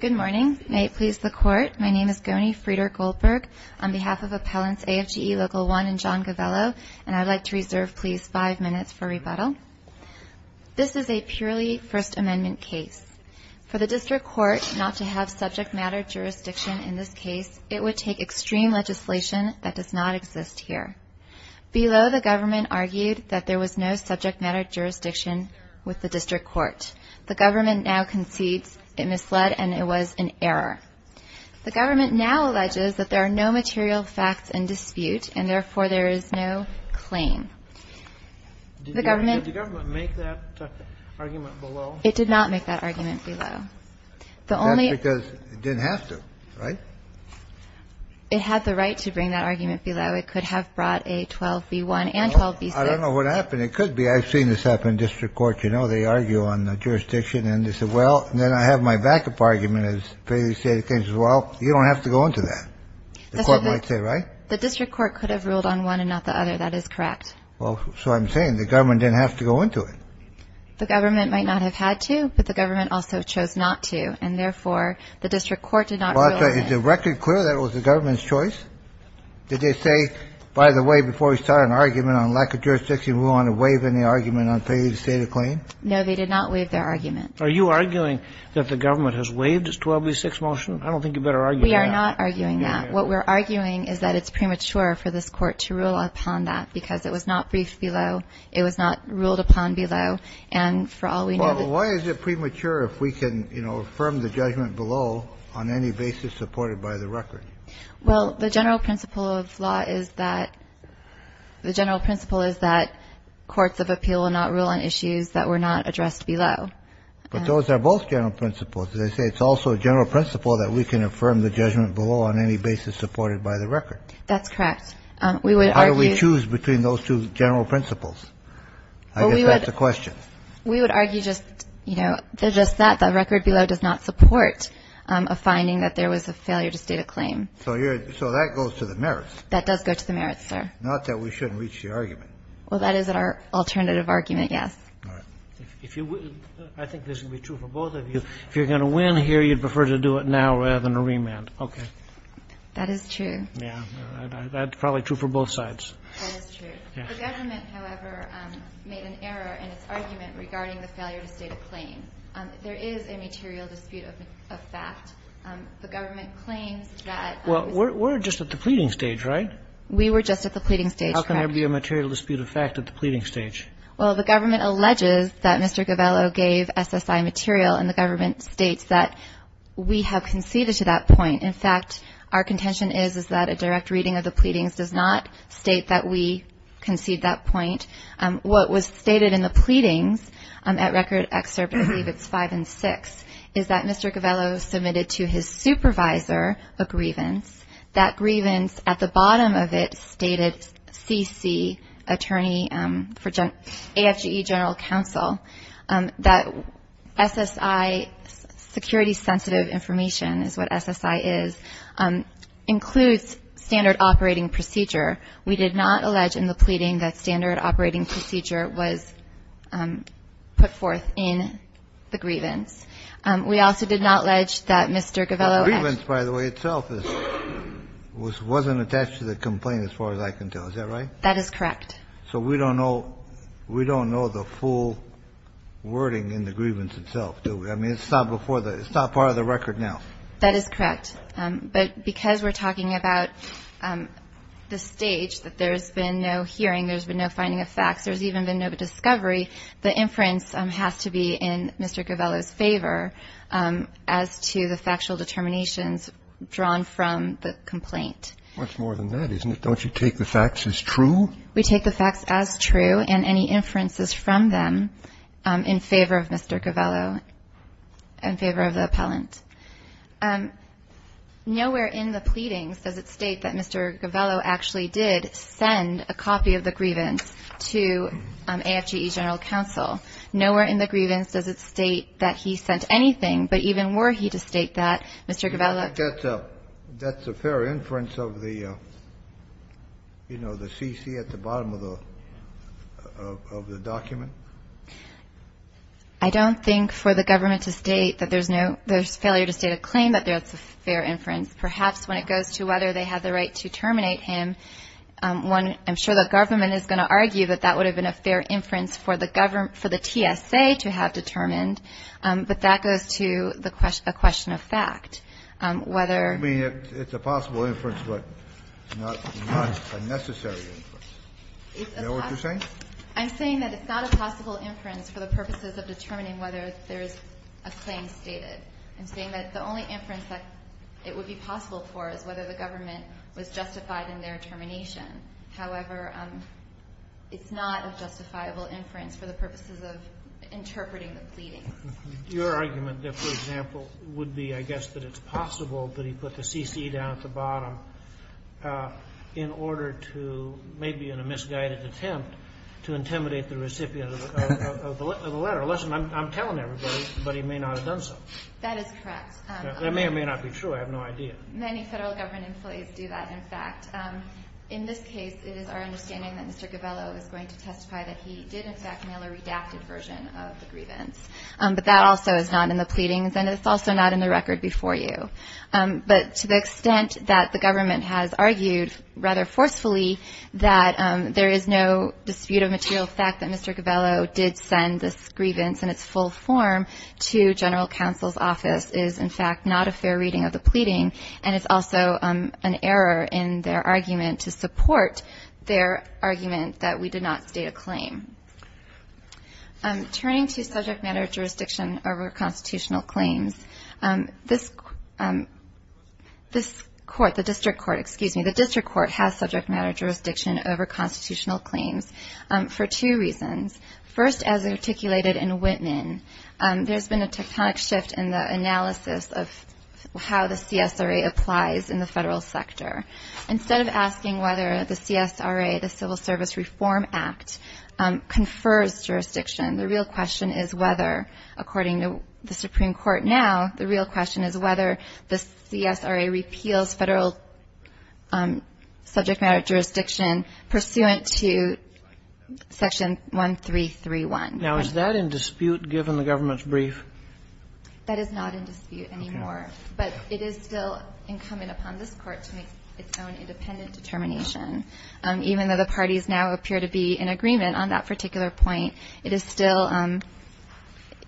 Good morning. May it please the Court, my name is Goni Frieder-Goldberg on behalf of Appellants AFGE Local 1 and John Govello, and I'd like to reserve, please, five minutes for rebuttal. This is a purely First Amendment case. For the District Court not to have subject matter jurisdiction in this case, it would take extreme legislation that does not exist here. Below, the government argued that there was no subject matter jurisdiction with the District Court. The government now concedes it misled and it was an error. The government now alleges that there are no material facts in dispute and therefore there is no claim. The government... Did the government make that argument below? It did not make that argument below. That's because it didn't have to, right? It had the right to bring that argument below. It could have brought a 12b1 and 12b6. I don't know what happened. It could be. I've seen this happen in District Court. You know, they argue on the jurisdiction and they say, well, and then I have my backup argument as they say the case, well, you don't have to go into that. The court might say, right? The District Court could have ruled on one and not the other. That is correct. Well, so I'm saying the government didn't have to go into it. The government might not have had to, but the government also chose not to. And therefore the District Court did not rule on it. But is it record clear that it was the government's choice? Did they say, by the way, before we start an argument on lack of jurisdiction, we want to waive any argument on failure to state a claim? No, they did not waive their argument. Are you arguing that the government has waived its 12b6 motion? I don't think you better argue that. We are not arguing that. What we're arguing is that it's premature for this court to rule upon that because it was not briefed below. It was not ruled upon below. And for all we know. Why is it premature if we can, you know, affirm the judgment below on any basis supported by the record? Well, the general principle of law is that the general principle is that courts of appeal will not rule on issues that were not addressed below. But those are both general principles. They say it's also a general principle that we can affirm the judgment below on any basis supported by the record. That's correct. We would argue. How do we choose between those two general principles? I guess that's the question. We would argue just, you know, just that the record below does not support a finding that there was a failure to state a claim. So that goes to the merits. That does go to the merits, sir. Not that we shouldn't reach the argument. Well, that is our alternative argument, yes. All right. If you will, I think this will be true for both of you. If you're going to win here, you'd prefer to do it now rather than a remand. Okay. That is true. Yeah, that's probably true for both sides. That is true. The government, however, made an error in its argument regarding the failure to state a claim. There is a material dispute of fact. The government claims that we're just at the pleading stage, right? We were just at the pleading stage. How can there be a material dispute of fact at the pleading stage? Well, the government alleges that Mr. Govello gave SSI material, and the government states that we have conceded to that point. In fact, our contention is that a direct reading of the pleadings does not state that we concede that point. What was stated in the pleadings at Record Excerpt, I believe it's 5 and 6, is that Mr. Govello submitted to his supervisor a grievance. That grievance, at the bottom of it, stated CC, Attorney for AFGE General Counsel, that SSI, security-sensitive information is what SSI is, includes standard operating procedure. We did not allege in the pleading that standard operating procedure was put forth in the grievance. We also did not allege that Mr. Govello had ---- The grievance, by the way, itself wasn't attached to the complaint as far as I can tell. Is that right? That is correct. So we don't know the full wording in the grievance itself, do we? I mean, it's not before the ---- it's not part of the record now. That is correct. But because we're talking about the stage, that there's been no hearing, there's been no finding of facts, there's even been no discovery, the inference has to be in Mr. Govello's favor as to the factual determinations drawn from the complaint. Much more than that, isn't it? Don't you take the facts as true? We take the facts as true and any inferences from them in favor of Mr. Govello, in favor of the appellant. Nowhere in the pleadings does it state that Mr. Govello actually did send a copy of the grievance to AFGE General Counsel. Nowhere in the grievance does it state that he sent anything, but even were he to state that, Mr. Govello ---- That's a fair inference of the, you know, the CC at the bottom of the document? I don't think for the government to state that there's no ---- there's failure to state a claim that that's a fair inference. Perhaps when it goes to whether they had the right to terminate him, one, I'm sure the government is going to argue that that would have been a fair inference for the government ---- for the TSA to have determined, but that goes to the question of fact, whether ---- I mean, it's a possible inference, but not a necessary inference. Is that what you're saying? I'm saying that it's not a possible inference for the purposes of determining whether there's a claim stated. I'm saying that the only inference that it would be possible for is whether the government was justified in their termination. However, it's not a justifiable inference for the purposes of interpreting the pleadings. Your argument, for example, would be, I guess, that it's possible that he put the CC down at the bottom in order to, maybe in a misguided attempt, to intimidate the recipient of the letter. Listen, I'm telling everybody, but he may not have done so. That is correct. That may or may not be true. I have no idea. Many Federal government employees do that. In fact, in this case, it is our understanding that Mr. Gabello is going to testify that he did, in fact, mail a redacted version of the grievance. But that also is not in the pleadings, and it's also not in the record before you. But to the extent that the government has argued, rather forcefully, that there is no dispute of material fact that Mr. Gabello did send this grievance in its full form to General Counsel's office is, in fact, not a fair reading of the pleading. And it's also an error in their argument to support their argument that we did not state a claim. Turning to subject matter jurisdiction over constitutional claims, this court, the District Court, excuse me, the District Court has subject matter jurisdiction over constitutional claims for two reasons. First, as articulated in Whitman, there's been a tectonic shift in the analysis of how the CSRA applies in the Federal sector. Instead of asking whether the CSRA, the Civil Service Reform Act, confers jurisdiction, the real question is whether, according to the Supreme Court now, the real question is whether the CSRA repeals Federal subject matter jurisdiction pursuant to Section 1331. Now, is that in dispute given the government's brief? That is not in dispute anymore. But it is still incumbent upon this Court to make its own independent determination. Even though the parties now appear to be in agreement on that particular point, it is still,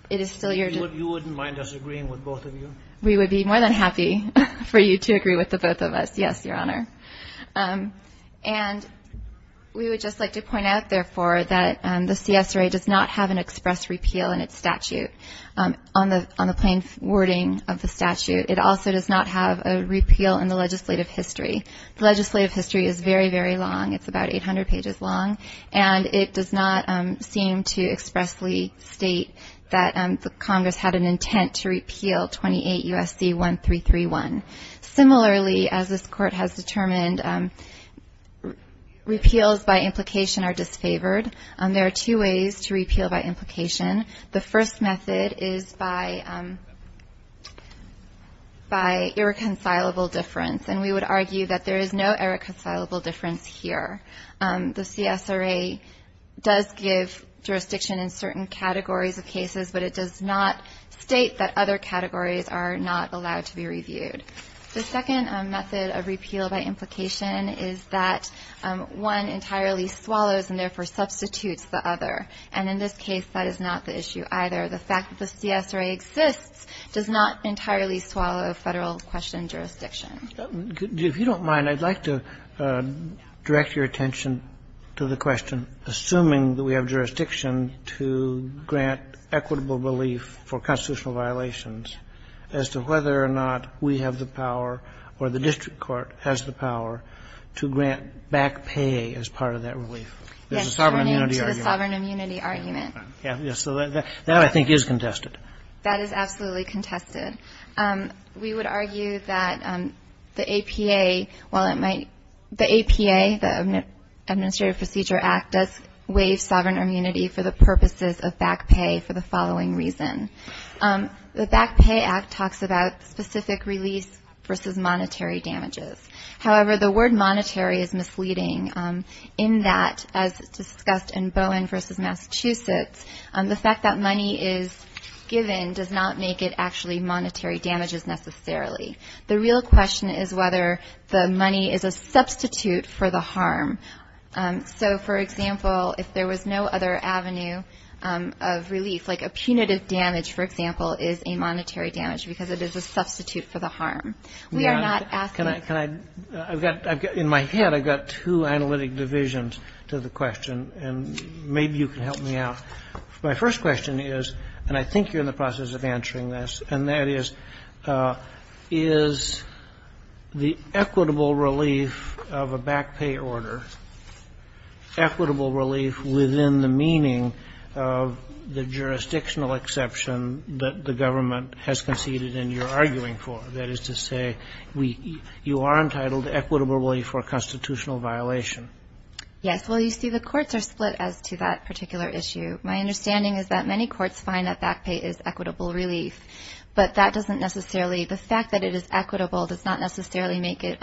it is still your. You wouldn't mind us agreeing with both of you? We would be more than happy for you to agree with the both of us, yes, Your Honor. And we would just like to point out, therefore, that the CSRA does not have an express repeal in its statute. On the plain wording of the statute, it also does not have a repeal in the legislative history. The legislative history is very, very long. It's about 800 pages long. And it does not seem to expressly state that the Congress had an intent to repeal 28 U.S.C. 1331. Similarly, as this Court has determined, repeals by implication are disfavored. There are two ways to repeal by implication. The first method is by, by irreconcilable difference. And we would argue that there is no irreconcilable difference here. The CSRA does give jurisdiction in certain categories of cases, but it does not state that other categories are not allowed to be reviewed. The second method of repeal by implication is that one entirely swallows and therefore substitutes the other. And in this case, that is not the issue either. The fact that the CSRA exists does not entirely swallow Federal question jurisdiction. Kennedy. If you don't mind, I'd like to direct your attention to the question, assuming that we have jurisdiction to grant equitable relief for constitutional violations, as to whether or not we have the power or the district court has the power to grant back pay as part of that relief. That's turning to the sovereign immunity argument. Yes, so that I think is contested. That is absolutely contested. We would argue that the APA, while it might, the APA, the Administrative Procedure Act, does waive sovereign immunity for the purposes of back pay for the following reason. The Back Pay Act talks about specific release versus monetary damages. However, the word monetary is misleading in that, as discussed in Bowen versus Massachusetts, the fact that money is given does not make it actually monetary damages necessarily. The real question is whether the money is a substitute for the harm. So, for example, if there was no other avenue of relief, like a punitive damage, for example, is a monetary damage because it is a substitute for the harm. We are not asking you to do that. Can I, can I, I've got, in my head, I've got two analytic divisions to the question, and maybe you can help me out. My first question is, and I think you're in the process of answering this, and that is, is the equitable relief of a back pay order equitable relief within the meaning of the jurisdictional exception that the government has conceded and you're arguing for, that is to say, we, you are entitled equitably for a constitutional violation. Yes, well, you see, the courts are split as to that particular issue. My understanding is that many courts find that back pay is equitable relief, but that doesn't necessarily, the fact that it is equitable does not necessarily make it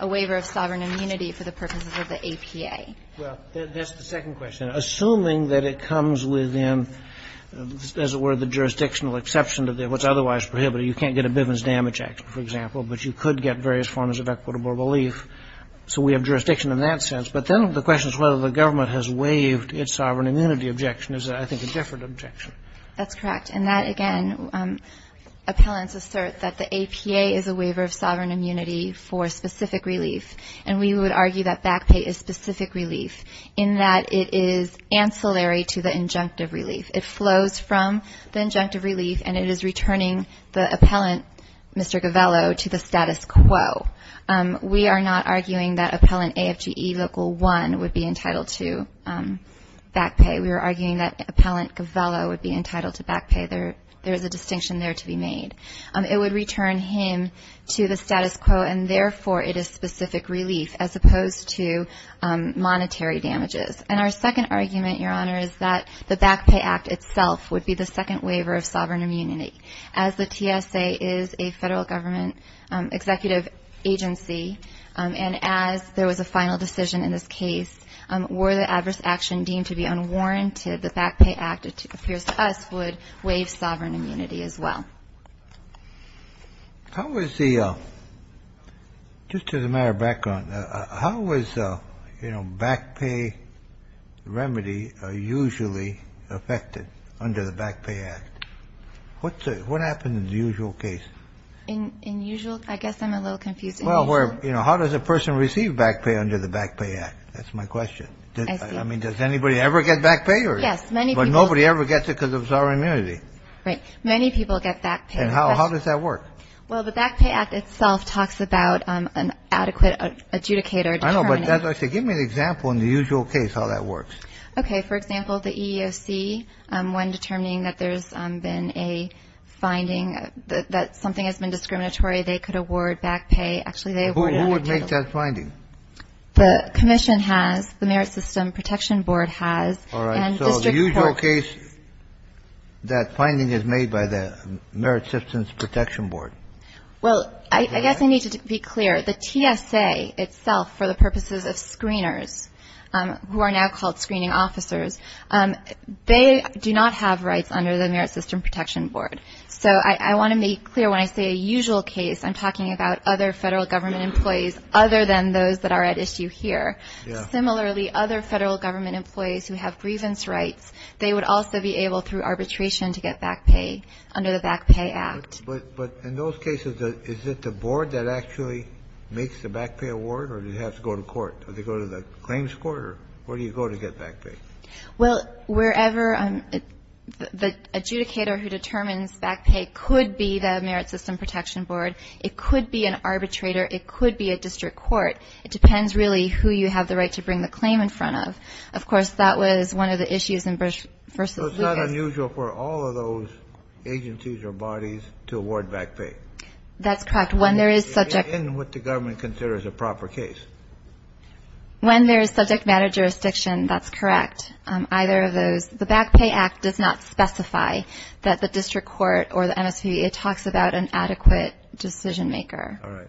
a waiver of sovereign immunity for the purposes of the APA. Well, that's the second question. Assuming that it comes within, as it were, the jurisdictional exception to what's otherwise prohibited, you can't get a Bivens Damage Act, for example, but you could get various forms of equitable relief. So we have jurisdiction in that sense. But then the question is whether the government has waived its sovereign immunity objection. Is that, I think, a different objection. That's correct. And that, again, appellants assert that the APA is a waiver of sovereign immunity for specific relief. And we would argue that back pay is specific relief in that it is ancillary to the injunctive relief. It flows from the injunctive relief and it is returning the appellant, Mr. Govello, to the status quo. We are not arguing that appellant AFGE Local 1 would be entitled to back pay. We are arguing that appellant Govello would be entitled to back pay. There is a distinction there to be made. It would return him to the status quo and, therefore, it is specific relief as opposed to monetary damages. And our second argument, Your Honor, is that the Back Pay Act itself would be the second waiver of sovereign immunity. As the TSA is a federal government executive agency, and as there was a final decision in this case, were the adverse action deemed to be unwarranted, the Back Pay Act, it appears to us, would waive sovereign immunity as well. How is the, just as a matter of background, how is, you know, back pay remedy usually affected under the Back Pay Act? What happens in the usual case? In usual, I guess I'm a little confused. Well, where, you know, how does a person receive back pay under the Back Pay Act? That's my question. I mean, does anybody ever get back pay? Yes, many people. But nobody ever gets it because of sovereign immunity. Right. Many people get back pay. And how does that work? Well, the Back Pay Act itself talks about an adequate adjudicator. I know, but as I say, give me an example in the usual case how that works. Okay. For example, the EEOC, when determining that there's been a finding that something has been discriminatory, they could award back pay. Actually, they award it. Who would make that finding? The commission has, the Merit System Protection Board has. All right. So the usual case, that finding is made by the Merit Systems Protection Board. Well, I guess I need to be clear. The TSA itself, for the purposes of screeners who are now called screening officers, they do not have rights under the Merit System Protection Board. So I want to make clear when I say a usual case, I'm talking about other federal government employees other than those that are at issue here. Similarly, other federal government employees who have grievance rights, they would also be able, through arbitration, to get back pay under the Back Pay Act. But in those cases, is it the board that actually makes the back pay award, or do they have to go to court? Do they go to the claims court, or where do you go to get back pay? Well, wherever the adjudicator who determines back pay could be the Merit System Protection Board. It could be an arbitrator. It could be a district court. It depends, really, who you have the right to bring the claim in front of. Of course, that was one of the issues in Bruce v. Lucas. So it's not unusual for all of those agencies or bodies to award back pay? That's correct. When there is subject matter jurisdiction, that's correct. Either of those, the Back Pay Act does not specify that the district court or the MSPB, it talks about an adequate decision maker. All right.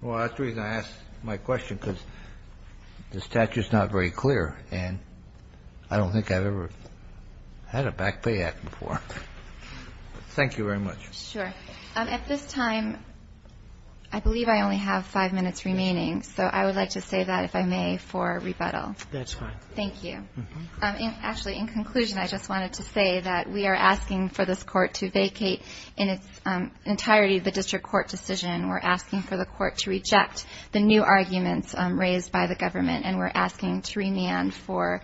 Well, that's the reason I asked my question, because the statute is not very clear, and I don't think I've ever had a Back Pay Act before. Thank you very much. Sure. At this time, I believe I only have five minutes remaining, so I would like to save that, if I may, for rebuttal. That's fine. Thank you. Actually, in conclusion, I just wanted to say that we are asking for this court to vacate in its entirety the district court decision. We're asking for the court to reject the new arguments raised by the government, and we're asking to remand for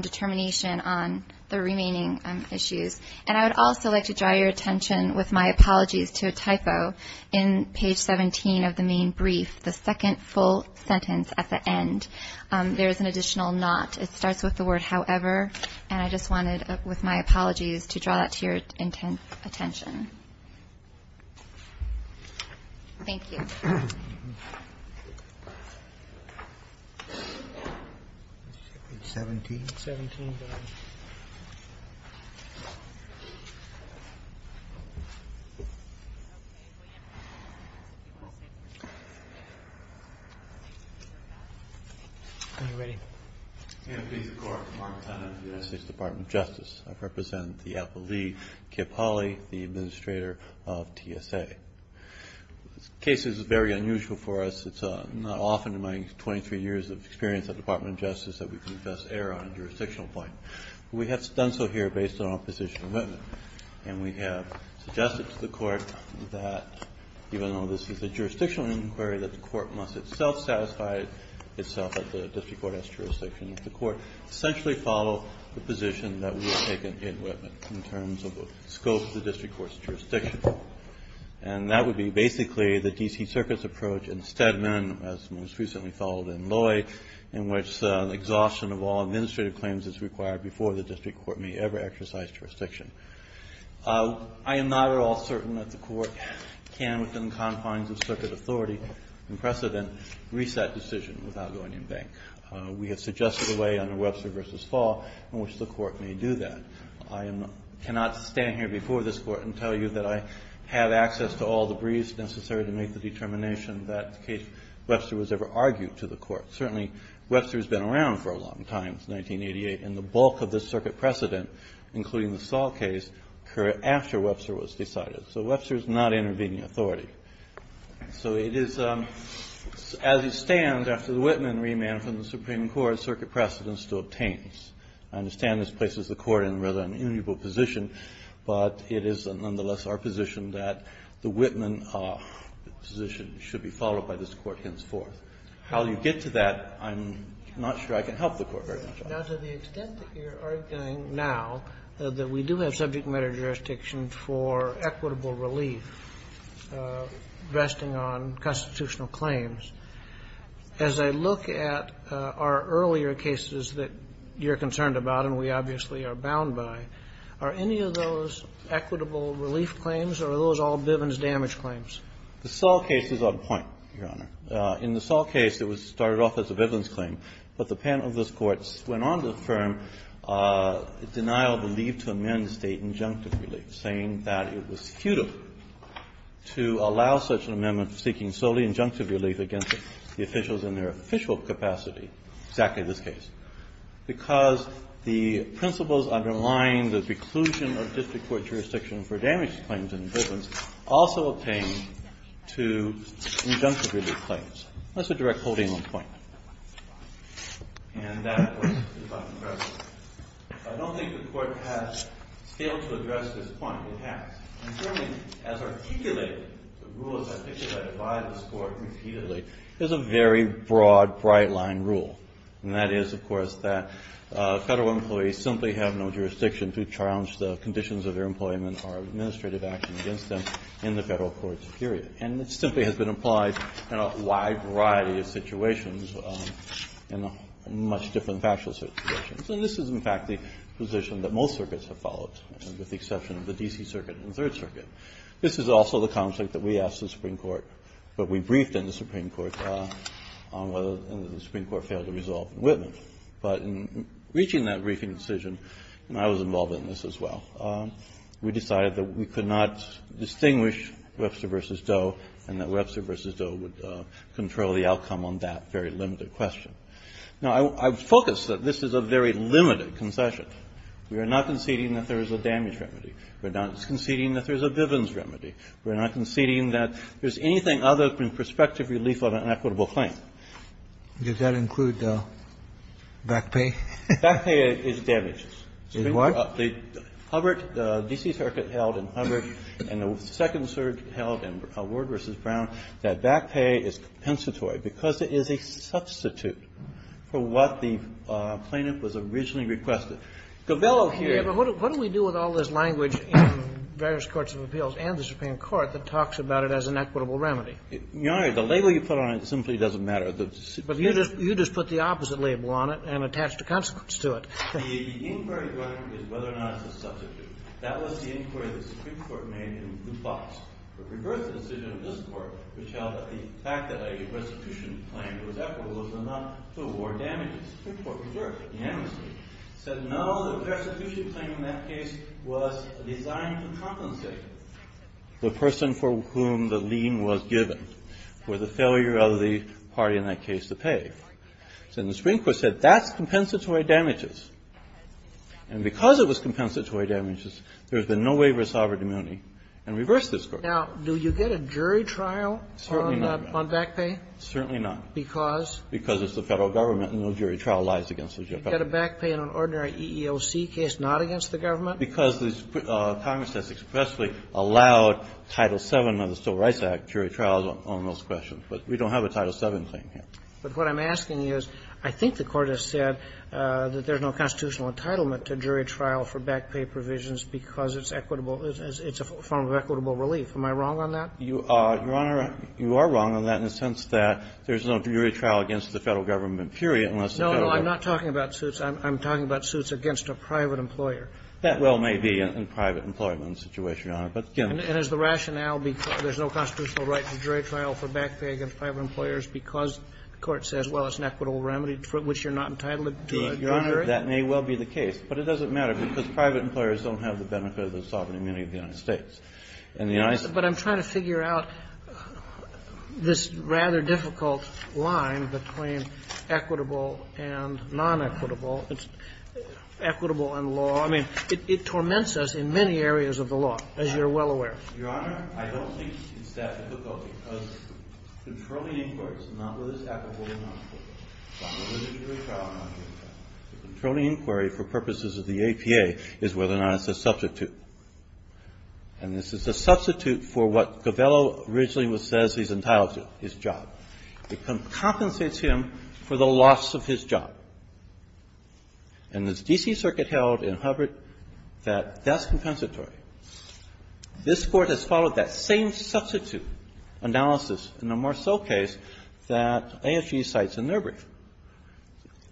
determination on the remaining issues. And I would also like to draw your attention, with my apologies to a typo, in page 17 of the main brief, the second full sentence at the end, there is an additional not. It starts with the word however, and I just wanted, with my apologies, to draw that to your attention. Thank you. It's 17? 17. Are you ready? And please, the Court, the Department of Justice. I represent the Alpha Lee, Kip Hawley, the administrator of TSA. This case is very unusual for us. It's not often in my 23 years of experience at the Department of Justice that we can just err on a jurisdictional point. We have done so here based on our position of commitment, and we have suggested to the court that even though this is a jurisdictional inquiry, that the court must itself satisfy itself that the district court has jurisdiction, that the court essentially follow the position that we have taken in Whitman, in terms of the scope of the district court's jurisdiction. And that would be basically the D.C. Circuit's approach in Stedman, as most recently followed in Loy, in which exhaustion of all administrative claims is required before the district court may ever exercise jurisdiction. I am not at all certain that the court can, within the confines of circuit authority and precedent, reset decision without going in bank. We have suggested a way under Webster v. Fall in which the court may do that. I cannot stand here before this Court and tell you that I have access to all the briefs necessary to make the determination that the case Webster was ever argued to the court. Certainly, Webster has been around for a long time, since 1988, and the bulk of this circuit precedent, including the Fall case, occurred after Webster was decided. So Webster is not intervening authority. So it is, as it stands, after the Whitman remand from the Supreme Court, circuit precedent still obtains. I understand this places the court in rather an inimitable position, but it is nonetheless our position that the Whitman position should be followed by this Court henceforth. How you get to that, I'm not sure I can help the Court very much. Now, to the extent that you're arguing now that we do have subject matter jurisdiction for equitable relief, resting on constitutional claims, as I look at our earlier cases that you're concerned about and we obviously are bound by, are any of those equitable relief claims or are those all Bivens damage claims? The Sell case is on point, Your Honor. In the Sell case, it was started off as a Bivens claim, but the panel of this Court went on to affirm denial of the leave to amend State injunctive relief, saying that it was futile to allow such an amendment seeking solely injunctive relief against the officials in their official capacity, exactly this case, because the principles underlying the preclusion of district court jurisdiction for damage claims in Bivens also obtained to injunctive relief. That's a direct holding on the point. And that, of course, is not impressive. I don't think the Court has failed to address this point. It has. And certainly, as articulated, the rules articulated by this Court repeatedly, there's a very broad, bright-line rule, and that is, of course, that Federal employees simply have no jurisdiction to challenge the conditions of their employment or administrative action against them in the Federal courts period. And this simply has been applied in a wide variety of situations, in much different factual situations. And this is, in fact, the position that most circuits have followed, with the exception of the D.C. Circuit and the Third Circuit. This is also the conflict that we asked the Supreme Court, but we briefed in the Supreme Court on whether the Supreme Court failed to resolve in Whitman. But in reaching that briefing decision, and I was involved in this as well, we decided that we could not distinguish Webster v. Doe, and that Webster v. Doe would control the outcome on that very limited question. Now, I would focus that this is a very limited concession. We are not conceding that there is a damage remedy. We're not conceding that there's a Bivens remedy. We're not conceding that there's anything other than prospective relief on an equitable claim. Kennedy, does that include back pay? Back pay is damages. It's what? The Hubbard, D.C. Circuit held in Hubbard, and the Second Circuit held in Ward v. Brown, that back pay is compensatory because it is a substitute for what the plaintiff was originally requested. Govello here used it as an equitable remedy. The label you put on it simply doesn't matter. But you just put the opposite label on it and attached a consequence to it. The inquiry is whether or not it's a substitute. That was the inquiry that the Supreme Court made in Hubbard. It reversed the decision of this Court, which held that the fact that a persecution claim was equitable was enough to award damages. The Supreme Court reversed it unanimously, said no, the persecution claim in that case was designed to compensate the person for whom the lien was given, or the failure of the party in that case to pay. And the Supreme Court said that's compensatory damages. And because it was compensatory damages, there's been no waiver of sovereign immunity, and reversed this Court. Now, do you get a jury trial on back pay? Certainly not. Because? Because it's the Federal Government and no jury trial lies against the JFF. You get a back pay in an ordinary EEOC case not against the Government? Because Congress has expressly allowed Title VII of the Civil Rights Act jury trials on those questions. But we don't have a Title VII claim here. But what I'm asking is, I think the Court has said that there's no constitutional entitlement to jury trial for back pay provisions because it's equitable, it's a form of equitable relief. Am I wrong on that? Your Honor, you are wrong on that in the sense that there's no jury trial against the Federal Government, period, unless the Federal Government. No, no, I'm not talking about suits. I'm talking about suits against a private employer. That well may be in a private employment situation, Your Honor. But again, the rationale, there's no constitutional right to jury trial for back pay against private employers because the Court says, well, it's an equitable remedy for which you're not entitled to a jury? Your Honor, that may well be the case, but it doesn't matter, because private employers don't have the benefit of the sovereign immunity of the United States. But I'm trying to figure out this rather difficult line between equitable and non-equitable. It's equitable in law. I mean, it torments us in many areas of the law, as you're well aware. Your Honor, I don't think it's that difficult because controlling inquiries, not whether it's equitable or not, but whether there's a jury trial or not, the controlling inquiry for purposes of the APA is whether or not it's a substitute. And this is a substitute for what Covello originally says he's entitled to, his job. It compensates him for the loss of his job. And the D.C. Circuit held in Hubbard that that's compensatory. This Court has followed that same substitute analysis in the Marceau case that ASG cites in their brief.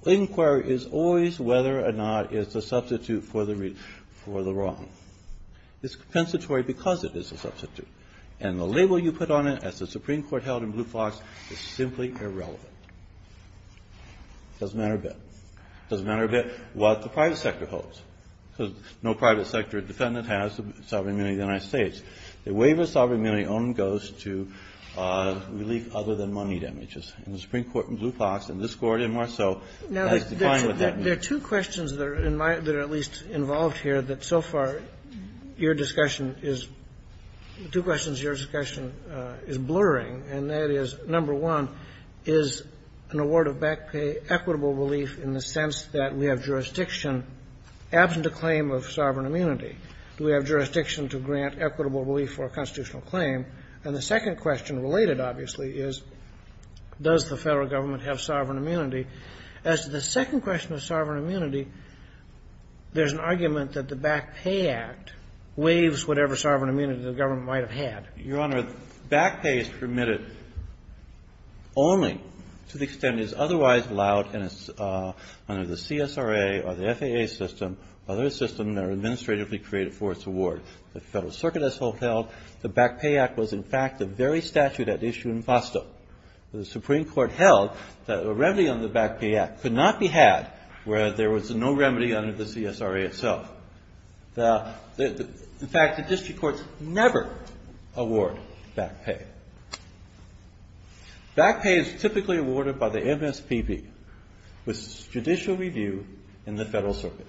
Inquiry is always whether or not it's a substitute for the wrong. It's compensatory because it is a substitute. And the label you put on it, as the Supreme Court held in Blue Fox, is simply irrelevant. It doesn't matter a bit. It doesn't matter a bit what the private sector holds, because no private sector defendant has the sovereign immunity of the United States. The waiver of sovereign immunity only goes to relief other than money damages. And the Supreme Court in Blue Fox and this Court in Marceau has defined what that means. Kennedy. There are two questions that are in my at least involved here that so far your discussion is, two questions your discussion is blurring, and that is, number one, is an award of back pay equitable relief in the sense that we have jurisdiction, absent a claim of sovereign immunity. Do we have jurisdiction to grant equitable relief for a constitutional claim? And the second question related, obviously, is does the Federal Government have sovereign immunity? As to the second question of sovereign immunity, there's an argument that the Back Pay Act waives whatever sovereign immunity the government might have had. Your Honor, back pay is permitted only to the extent it is otherwise allowed under the CSRA or the FAA system or other system that are administratively created for its award. The Federal Circuit has held the Back Pay Act was, in fact, the very statute at issue in FOSTA. The Supreme Court held that a remedy on the Back Pay Act could not be had where there was no remedy under the CSRA itself. In fact, the district courts never award back pay. Back pay is typically awarded by the MSPB with judicial review in the Federal Circuit.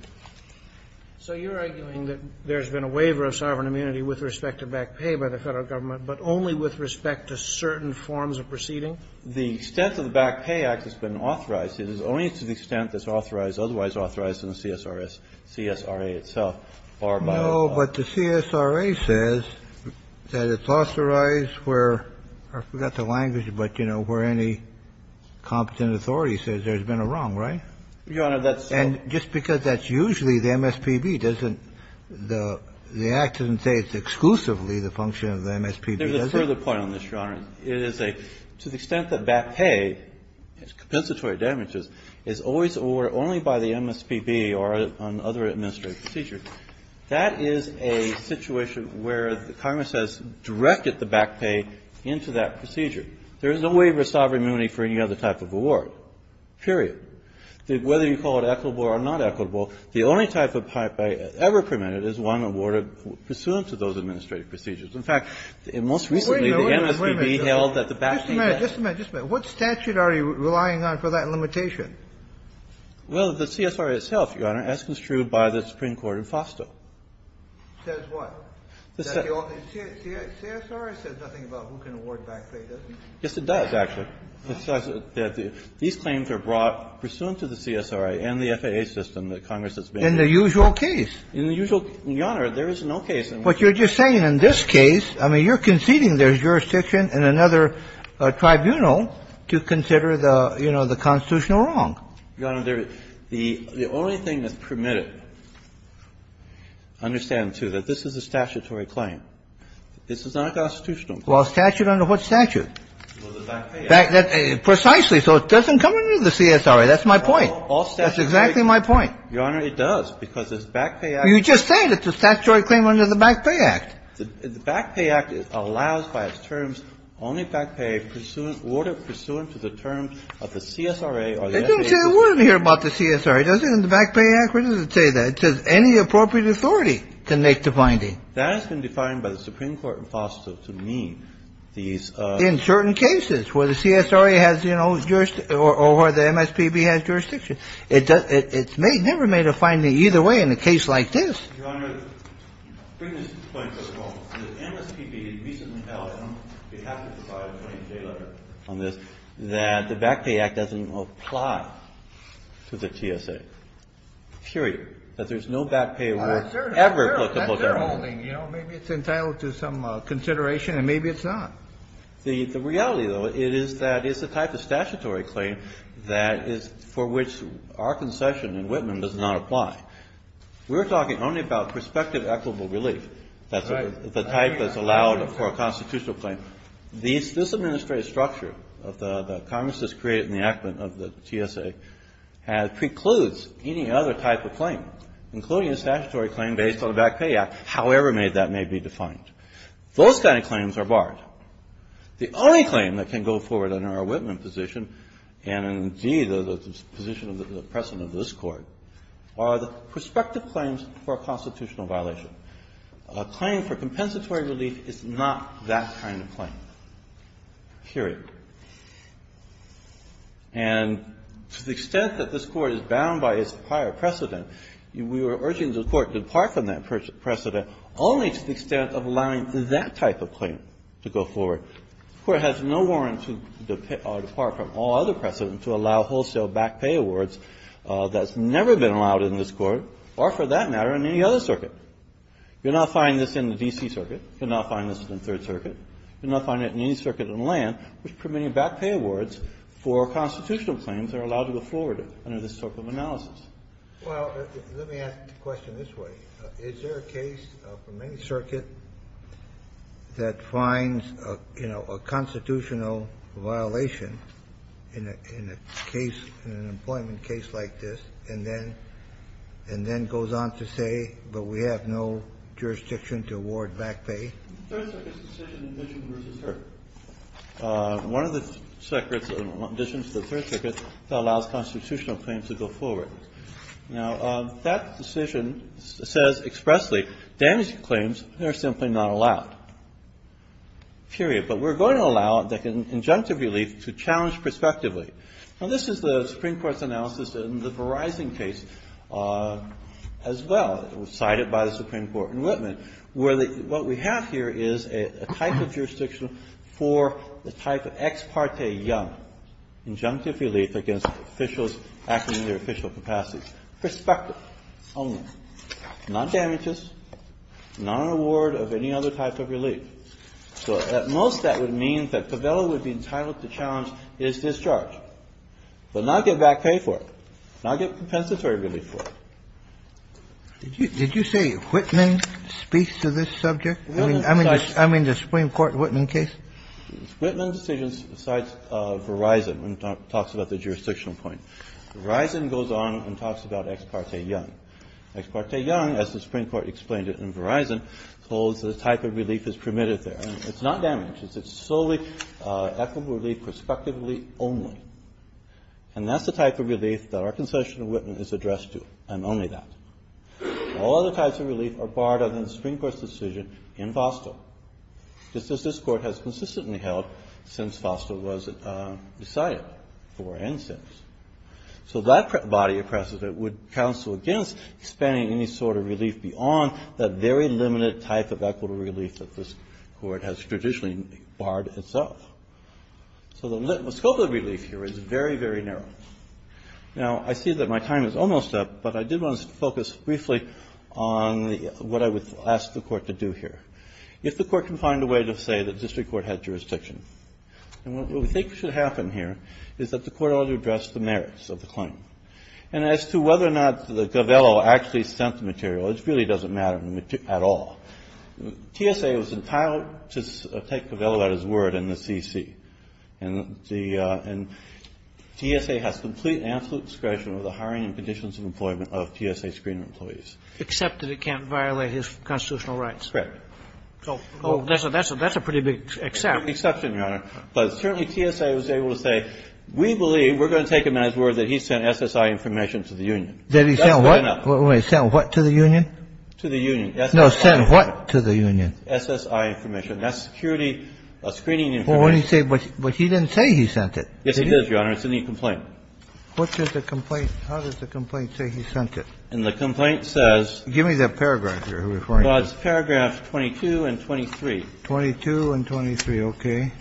So you're arguing that there's been a waiver of sovereign immunity with respect to back pay by the Federal Government, but only with respect to certain forms of proceeding? The extent of the Back Pay Act has been authorized. It is only to the extent that it's authorized, otherwise authorized, in the CSRA itself or by the FAA. No, but the CSRA says that it's authorized where, I forgot the language, but, you know, where any competent authority says there's been a wrong, right? Your Honor, that's so. And just because that's usually the MSPB doesn't, the Act doesn't say it's exclusively the function of the MSPB, does it? There's a further point on this, Your Honor. It is a, to the extent that back pay, its compensatory damages, is always awarded only by the MSPB or on other administrative procedures. That is a situation where the Congress has directed the back pay into that procedure. There is no waiver of sovereign immunity for any other type of award, period. Whether you call it equitable or not equitable, the only type of back pay ever permitted is one awarded pursuant to those administrative procedures. In fact, most recently, the MSPB held that the back pay has been awarded. Just a minute, just a minute, just a minute. What statute are you relying on for that limitation? Well, the CSRA itself, Your Honor, as construed by the Supreme Court in FOSTA. Says what? The CSRA says nothing about who can award back pay, does it? Yes, it does, actually. It says that these claims are brought pursuant to the CSRA and the FAA system that Congress has made. In the usual case. In the usual, Your Honor, there is no case in which. But you're just saying in this case, I mean, you're conceding there's jurisdiction in another tribunal to consider the, you know, the constitutional wrong. Your Honor, the only thing that's permitted, understand, too, that this is a statutory claim. This is not a constitutional claim. Well, a statute under what statute? Well, the Back Pay Act. Precisely. So it doesn't come under the CSRA. That's my point. All statutes. That's exactly my point. Your Honor, it does, because this Back Pay Act. You just said it's a statutory claim under the Back Pay Act. The Back Pay Act allows by its terms only back pay pursuant to the terms of the CSRA or the FAA. It doesn't say a word here about the CSRA, does it, in the Back Pay Act? Where does it say that? It says any appropriate authority can make the finding. That has been defined by the Supreme Court in FOSTA to mean these. In certain cases where the CSRA has, you know, jurisdiction or where the MSPB has jurisdiction. It's never made a finding either way in a case like this. Your Honor, to bring this to the point as well, the MSPB has recently held, on behalf of the 520J letter on this, that the Back Pay Act doesn't apply to the TSA, period. That there's no back pay award ever put to both parties. That's their holding. You know, maybe it's entitled to some consideration, and maybe it's not. The reality, though, is that it's a type of statutory claim that is for which our concession in Whitman does not apply. We're talking only about prospective equitable relief. That's the type that's allowed for a constitutional claim. This administrative structure of the Congress that's created in the enactment of the TSA precludes any other type of claim, including a statutory claim based on the Back Pay Act, however that may be defined. Those kind of claims are barred. The only claim that can go forward under our Whitman position, and indeed the position of the President of this Court, are the prospective claims for a constitutional violation. A claim for compensatory relief is not that kind of claim, period. And to the extent that this Court is bound by its prior precedent, we were urging the Court to depart from that precedent only to the extent of allowing that type of claim to go forward. The Court has no warrant to depart from all other precedents to allow wholesale back pay awards that's never been allowed in this Court or, for that matter, in any other circuit. You'll not find this in the D.C. Circuit. You'll not find this in the Third Circuit. You'll not find it in any circuit on land which permitting back pay awards for constitutional claims are allowed to go forward under this type of analysis. Kennedy. Well, let me ask the question this way. Is there a case for many circuits that finds, you know, a constitutional violation in a case, in an employment case like this, and then goes on to say, but we have no jurisdiction to award back pay? The Third Circuit's decision in Ditching v. Herb. One of the circuits, in addition to the Third Circuit, that allows constitutional claims to go forward. Now, that decision says expressly, damaging claims are simply not allowed, period. But we're going to allow the injunctive relief to challenge prospectively. Now, this is the Supreme Court's analysis in the Verizon case as well, cited by the Supreme Court in Whitman, where what we have here is a type of jurisdiction for the type of ex parte young injunctive relief against officials acting in their official capacities. Prospective only, not damages, not an award of any other type of relief. So at most, that would mean that Pavela would be entitled to challenge his discharge, but not get back pay for it, not get compensatory relief for it. Did you say Whitman speaks to this subject? I mean, the Supreme Court Whitman case? Whitman's decision cites Verizon and talks about the jurisdictional point. Verizon goes on and talks about ex parte young. Ex parte young, as the Supreme Court explained it in Verizon, holds the type of relief that's permitted there. It's not damages. It's solely equitable relief prospectively only. And that's the type of relief that our concession in Whitman is addressed to, and only that. All other types of relief are barred under the Supreme Court's decision in Vosto, just as this Court has consistently held since Vosto was decided, for and since. So that body of precedent would counsel against expanding any sort of relief beyond that very limited type of equitable relief that this Court has traditionally barred itself. So the scope of relief here is very, very narrow. Now, I see that my time is almost up, but I did want to focus briefly on what I would ask the Court to do here, if the Court can find a way to say that district court had jurisdiction. And what we think should happen here is that the Court ought to address the merits of the claim. And as to whether or not the Govello actually sent the material, it really doesn't matter at all. TSA was entitled to take Govello at his word in the CC. And the TSA has complete and absolute discretion over the hiring and conditions of employment of TSA screener employees. Except that it can't violate his constitutional rights. Correct. So that's a pretty big except. It's an exception, Your Honor. But certainly TSA was able to say, we believe, we're going to take him at his word that he sent SSI information to the union. Did he send what? Sent what to the union? To the union. No, sent what to the union? SSI information. That's security screening information. But he didn't say he sent it. Yes, he did, Your Honor. It's in the complaint. What does the complaint – how does the complaint say he sent it? And the complaint says – Give me the paragraph here. Well, it's paragraph 22 and 23. 22 and 23. Okay.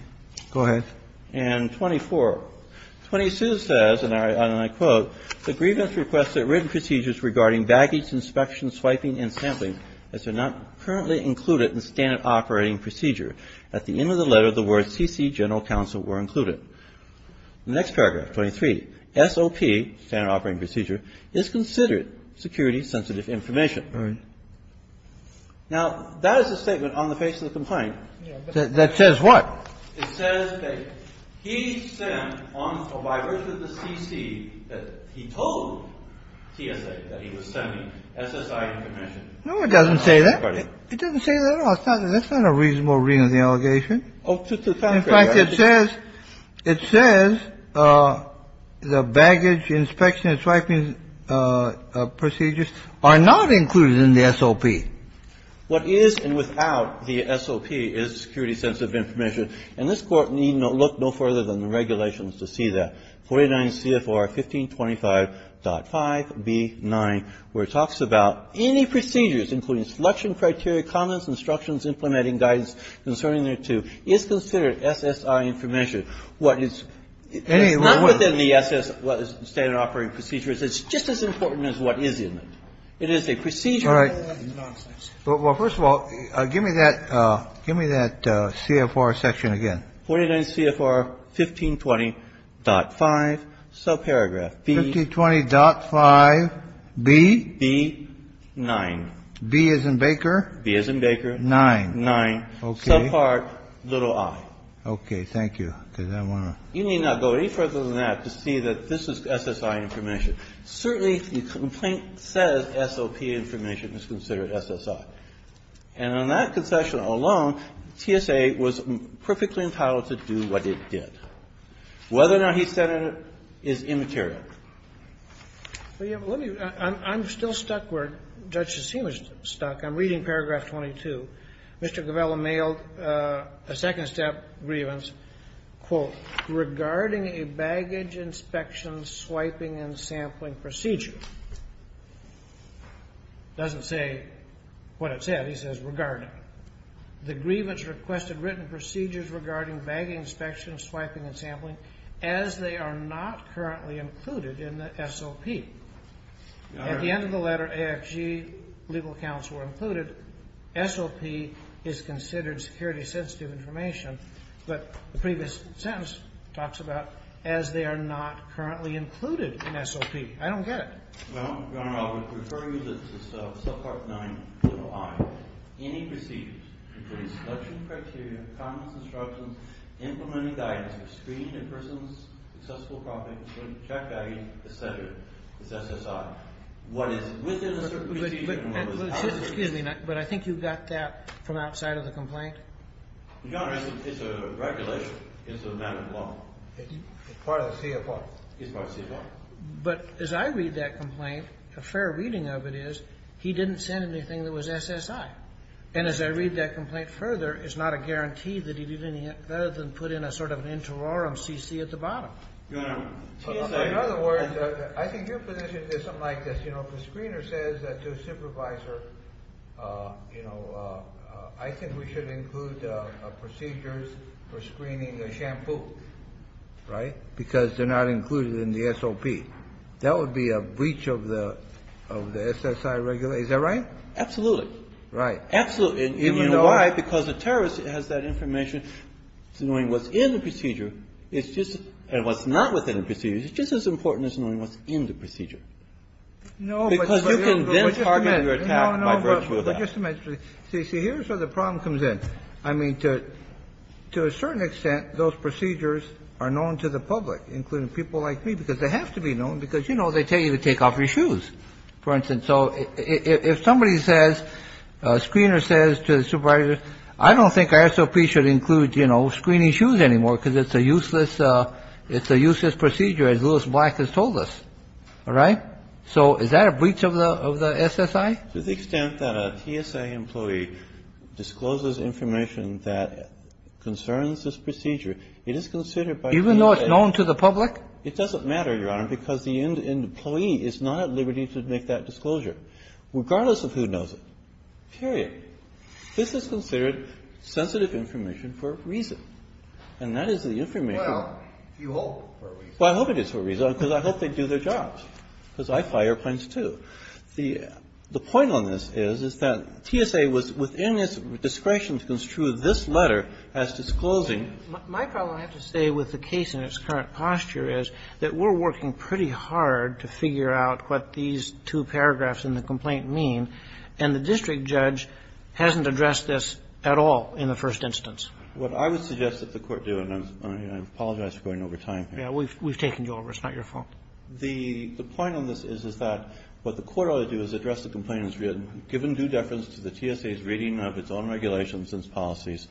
Go ahead. And 24. 22 says, and I quote, The grievance requests that written procedures regarding baggage inspection, swiping, and sampling as they're not currently included in standard operating procedure. At the end of the letter, the words CC General Counsel were included. The next paragraph, 23. SOP, standard operating procedure, is considered security sensitive information. All right. Now, that is a statement on the face of the complaint. That says what? It says that he sent on – or by virtue of the CC, that he told TSA that he was sending SSI information. No, it doesn't say that. It doesn't say that at all. That's not a reasonable reading of the allegation. In fact, it says – it says the baggage inspection and swiping procedures are not included in the SOP. What is and without the SOP is security sensitive information. And this Court need not look no further than the regulations to see that. 49 CFR 1525.5b9, where it talks about any procedures, including selection criteria, comments, instructions, implementing guidance concerning thereto, is considered SSI information. What is – it's not within the SS standard operating procedures. It's just as important as what is in it. It is a procedure. All right. Well, first of all, give me that – give me that CFR section again. 49 CFR 1520.5, subparagraph B. 1520.5b? B9. B as in Baker? B as in Baker. 9. 9. Okay. Subpart little i. Okay. Thank you. Because I want to – You need not go any further than that to see that this is SSI information. Certainly, the complaint says SOP information is considered SSI. And on that concession alone, TSA was perfectly entitled to do what it did. Whether or not he said it is immaterial. Well, yeah, but let me – I'm still stuck where Judge Cassin was stuck. I'm reading paragraph 22. Mr. Govella mailed a second-step grievance, quote, regarding a baggage inspection swiping and sampling procedure. It doesn't say what it said. It says regarding. The grievance requested written procedures regarding baggage inspection swiping and sampling as they are not currently included in the SOP. At the end of the letter, AFG legal accounts were included. SOP is considered security-sensitive information. But the previous sentence talks about as they are not currently included in SOP. I don't get it. Well, Your Honor, I would refer you to subpart 9, little i. Any procedures including selection criteria, common instructions, implementing guidance for screening a person's successful profit, check value, et cetera, is SSI. What is within a certain procedure – Excuse me. But I think you got that from outside of the complaint. Your Honor, it's a regulation. It's a matter of law. It's part of the CFO. It's part of the CFO. But as I read that complaint, a fair reading of it is he didn't send anything that was SSI. And as I read that complaint further, it's not a guarantee that he did anything other than put in a sort of an interorum CC at the bottom. In other words, I think your position is something like this. You know, if a screener says to a supervisor, you know, I think we should include procedures for screening a shampoo, right, because they're not included in the SOP, that would be a breach of the SSI regulation. Is that right? Absolutely. Right. Absolutely. And you know why? Because the terrorist has that information. So knowing what's in the procedure is just – and what's not within the procedure is just as important as knowing what's in the procedure. No, but you know – No, no, no, but just a minute. See, here's where the problem comes in. I mean, to a certain extent, those procedures are known to the public, including people like me, because they have to be known, because, you know, they tell you to take off your shoes, for instance. So if somebody says, a screener says to the supervisor, I don't think SOP should include, you know, screening shoes anymore because it's a useless – it's a useless procedure, as Louis Black has told us. All right? So is that a breach of the SSI? To the extent that a TSA employee discloses information that concerns this procedure, it is considered by the NSA – Even though it's known to the public? It doesn't matter, Your Honor, because the employee is not at liberty to make that disclosure, regardless of who knows it, period. This is considered sensitive information for a reason. And that is the information – Well, you hope for a reason. Well, I hope it is for a reason, because I hope they do their jobs, because I fly airplanes, too. The point on this is, is that TSA was within its discretion to construe this letter as disclosing. My problem, I have to say, with the case in its current posture is that we're working pretty hard to figure out what these two paragraphs in the complaint mean, and the district judge hasn't addressed this at all in the first instance. What I would suggest that the Court do, and I apologize for going over time here. Yeah. We've taken you over. It's not your fault. The point on this is, is that what the Court ought to do is address the complaint as written, given due deference to the TSA's reading of its own regulations and its policies,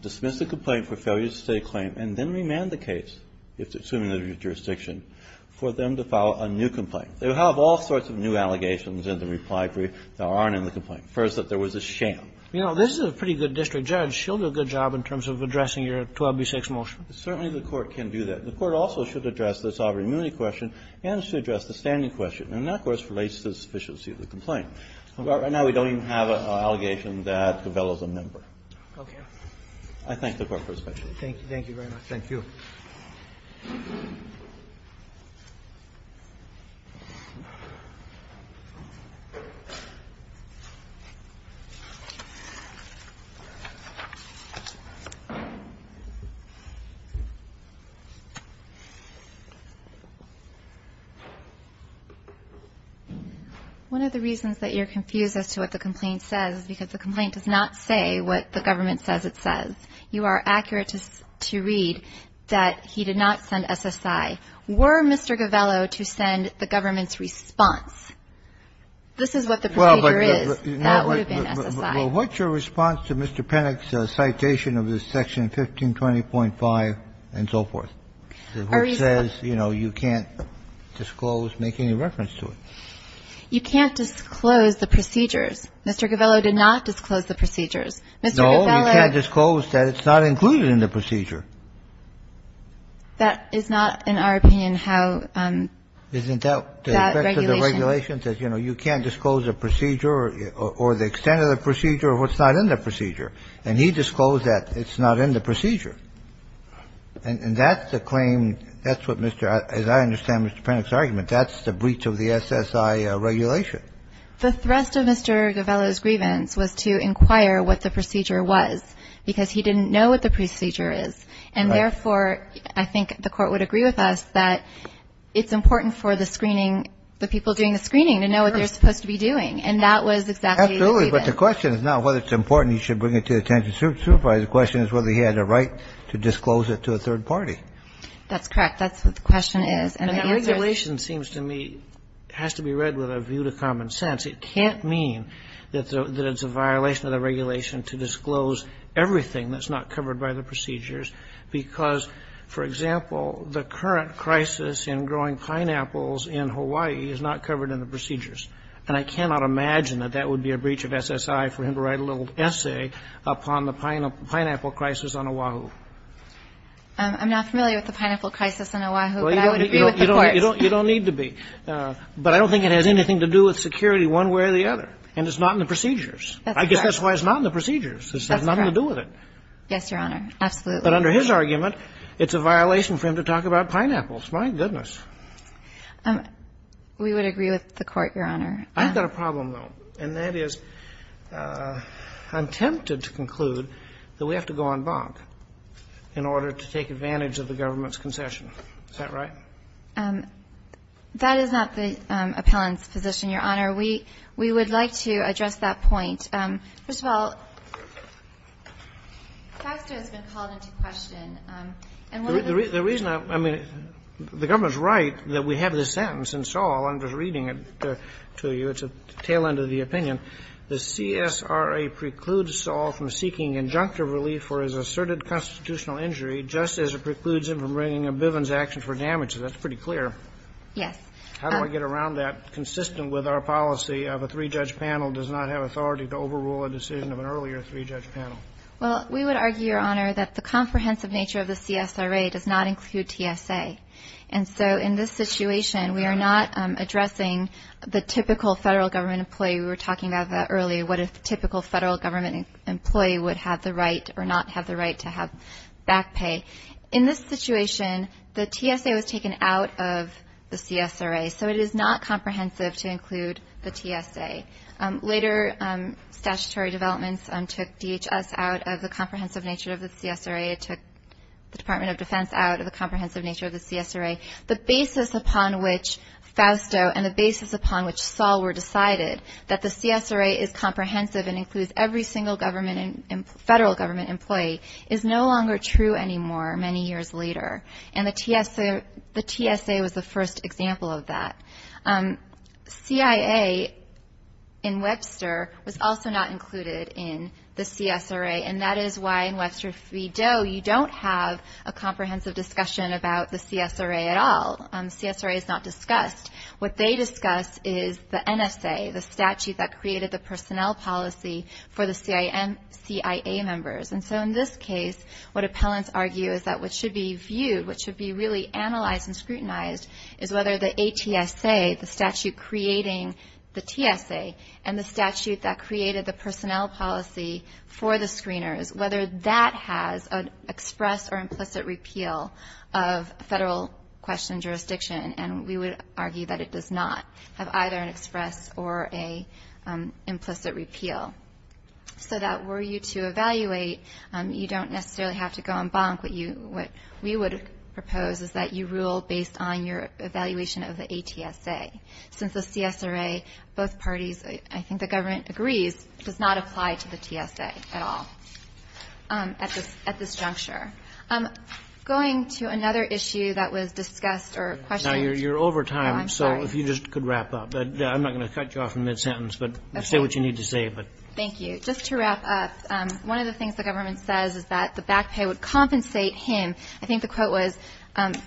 dismiss the complaint for failure to state a claim, and then remand the case, if it's assumed in the jurisdiction, for them to file a new complaint. They would have all sorts of new allegations in the reply brief that aren't in the complaint. First, that there was a sham. You know, this is a pretty good district judge. She'll do a good job in terms of addressing your 12B6 motion. Certainly the Court can do that. The Court also should address the sovereign immunity question and should address the standing question. And that, of course, relates to the sufficiency of the complaint. Right now, we don't even have an allegation that Cabello's a member. Okay. I thank the Court for its patience. Thank you. Thank you very much. Thank you. One of the reasons that you're confused as to what the complaint says is because the complaint does not say what the government says it says. You are accurate to read that he did not send SSI. Were Mr. Cabello to send the government's response, this is what the procedure is. That would have been SSI. Well, what's your response to Mr. Pennock's citation of this section 1520.5 and so forth? The book says, you know, you can't disclose, make any reference to it. You can't disclose the procedures. Mr. Cabello did not disclose the procedures. Mr. Cabello No, you can't disclose that it's not included in the procedure. That is not, in our opinion, how that regulation Isn't that the effect of the regulation says, you know, you can't disclose a procedure or the extent of the procedure or what's not in the procedure. And he disclosed that it's not in the procedure. And that's the claim. That's what Mr. As I understand, Mr. Pennock's argument, that's the breach of the SSI regulation. The thrust of Mr. Cabello's grievance was to inquire what the procedure was because he didn't know what the procedure is. And therefore, I think the court would agree with us that it's important for the screening, the people doing the screening to know what they're supposed to be doing. And that was exactly the question is not whether it's important. You should bring it to the attention. The question is whether he had a right to disclose it to a third party. That's correct. That's what the question is. And the answer is The regulation seems to me has to be read with a view to common sense. It can't mean that it's a violation of the regulation to disclose everything that's not covered by the procedures because, for example, the current crisis in growing pineapples in Hawaii is not covered in the procedures. And I cannot imagine that that would be a breach of SSI for him to write a little about the pineapple crisis on Oahu. I'm not familiar with the pineapple crisis on Oahu, but I would agree with the court. You don't need to be. But I don't think it has anything to do with security one way or the other. And it's not in the procedures. I guess that's why it's not in the procedures. It has nothing to do with it. Yes, Your Honor. Absolutely. But under his argument, it's a violation for him to talk about pineapples. My goodness. We would agree with the court, Your Honor. I've got a problem, though. And that is, I'm tempted to conclude that we have to go on bonk in order to take advantage of the government's concession. Is that right? That is not the appellant's position, Your Honor. We would like to address that point. First of all, Foxter has been called into question. And one of the reasons the reason I mean, the government's right that we have this sentence in Shaw. I'm just reading it to you. It's a tail end of the opinion. The CSRA precludes Saul from seeking injunctive relief for his asserted constitutional injury, just as it precludes him from bringing a Bivens action for damages. That's pretty clear. Yes. How do I get around that, consistent with our policy of a three-judge panel does not have authority to overrule a decision of an earlier three-judge panel? Well, we would argue, Your Honor, that the comprehensive nature of the CSRA does not include TSA. And so in this situation, we are not addressing the typical federal government employee. We were talking about that earlier, what a typical federal government employee would have the right or not have the right to have back pay. In this situation, the TSA was taken out of the CSRA. So it is not comprehensive to include the TSA. Later statutory developments took DHS out of the comprehensive nature of the CSRA. It took the Department of Defense out of the comprehensive nature of the CSRA. The basis upon which Fausto and the basis upon which Saul were decided, that the CSRA is comprehensive and includes every single federal government employee is no longer true anymore many years later. And the TSA was the first example of that. CIA in Webster was also not included in the CSRA. And that is why in Webster v. Doe, you don't have a comprehensive discussion about the CSRA at all. CSRA is not discussed. What they discuss is the NSA, the statute that created the personnel policy for the CIA members. And so in this case, what appellants argue is that what should be viewed, what should be really analyzed and scrutinized is whether the ATSA, the statute creating the TSA, and the statute that created the personnel policy for the screeners, whether that has an express or implicit repeal of federal question jurisdiction. And we would argue that it does not have either an express or an implicit repeal. So that were you to evaluate, you don't necessarily have to go on bonk. What we would propose is that you rule based on your evaluation of the ATSA. Since the CSRA, both parties, I think the government agrees, does not apply to the ATSA at all at this juncture. Going to another issue that was discussed or questioned. You're over time, so if you just could wrap up. I'm not going to cut you off in mid-sentence, but say what you need to say. Thank you. Just to wrap up, one of the things the government says is that the back pay would compensate him. I think the quote was,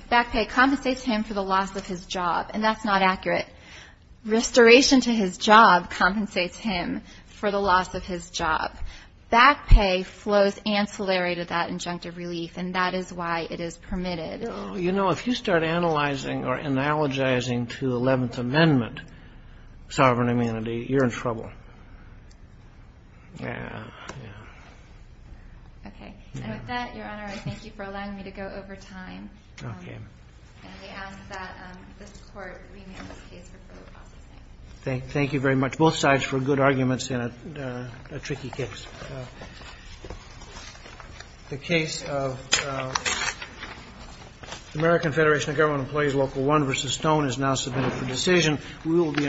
back pay compensates him for the loss of his job. And that's not accurate. Restoration to his job compensates him for the loss of his job. Back pay flows ancillary to that injunctive relief, and that is why it is permitted. Well, you know, if you start analyzing or analogizing to the Eleventh Amendment sovereign immunity, you're in trouble. Yeah, yeah. Okay. And with that, Your Honor, I thank you for allowing me to go over time. Okay. And we ask that this Court rename this case for further processing. Thank you very much. Both sides for good arguments in a tricky case. The case of American Federation of Government Employees, Local 1 v. Stone is now submitted for decision. We will be.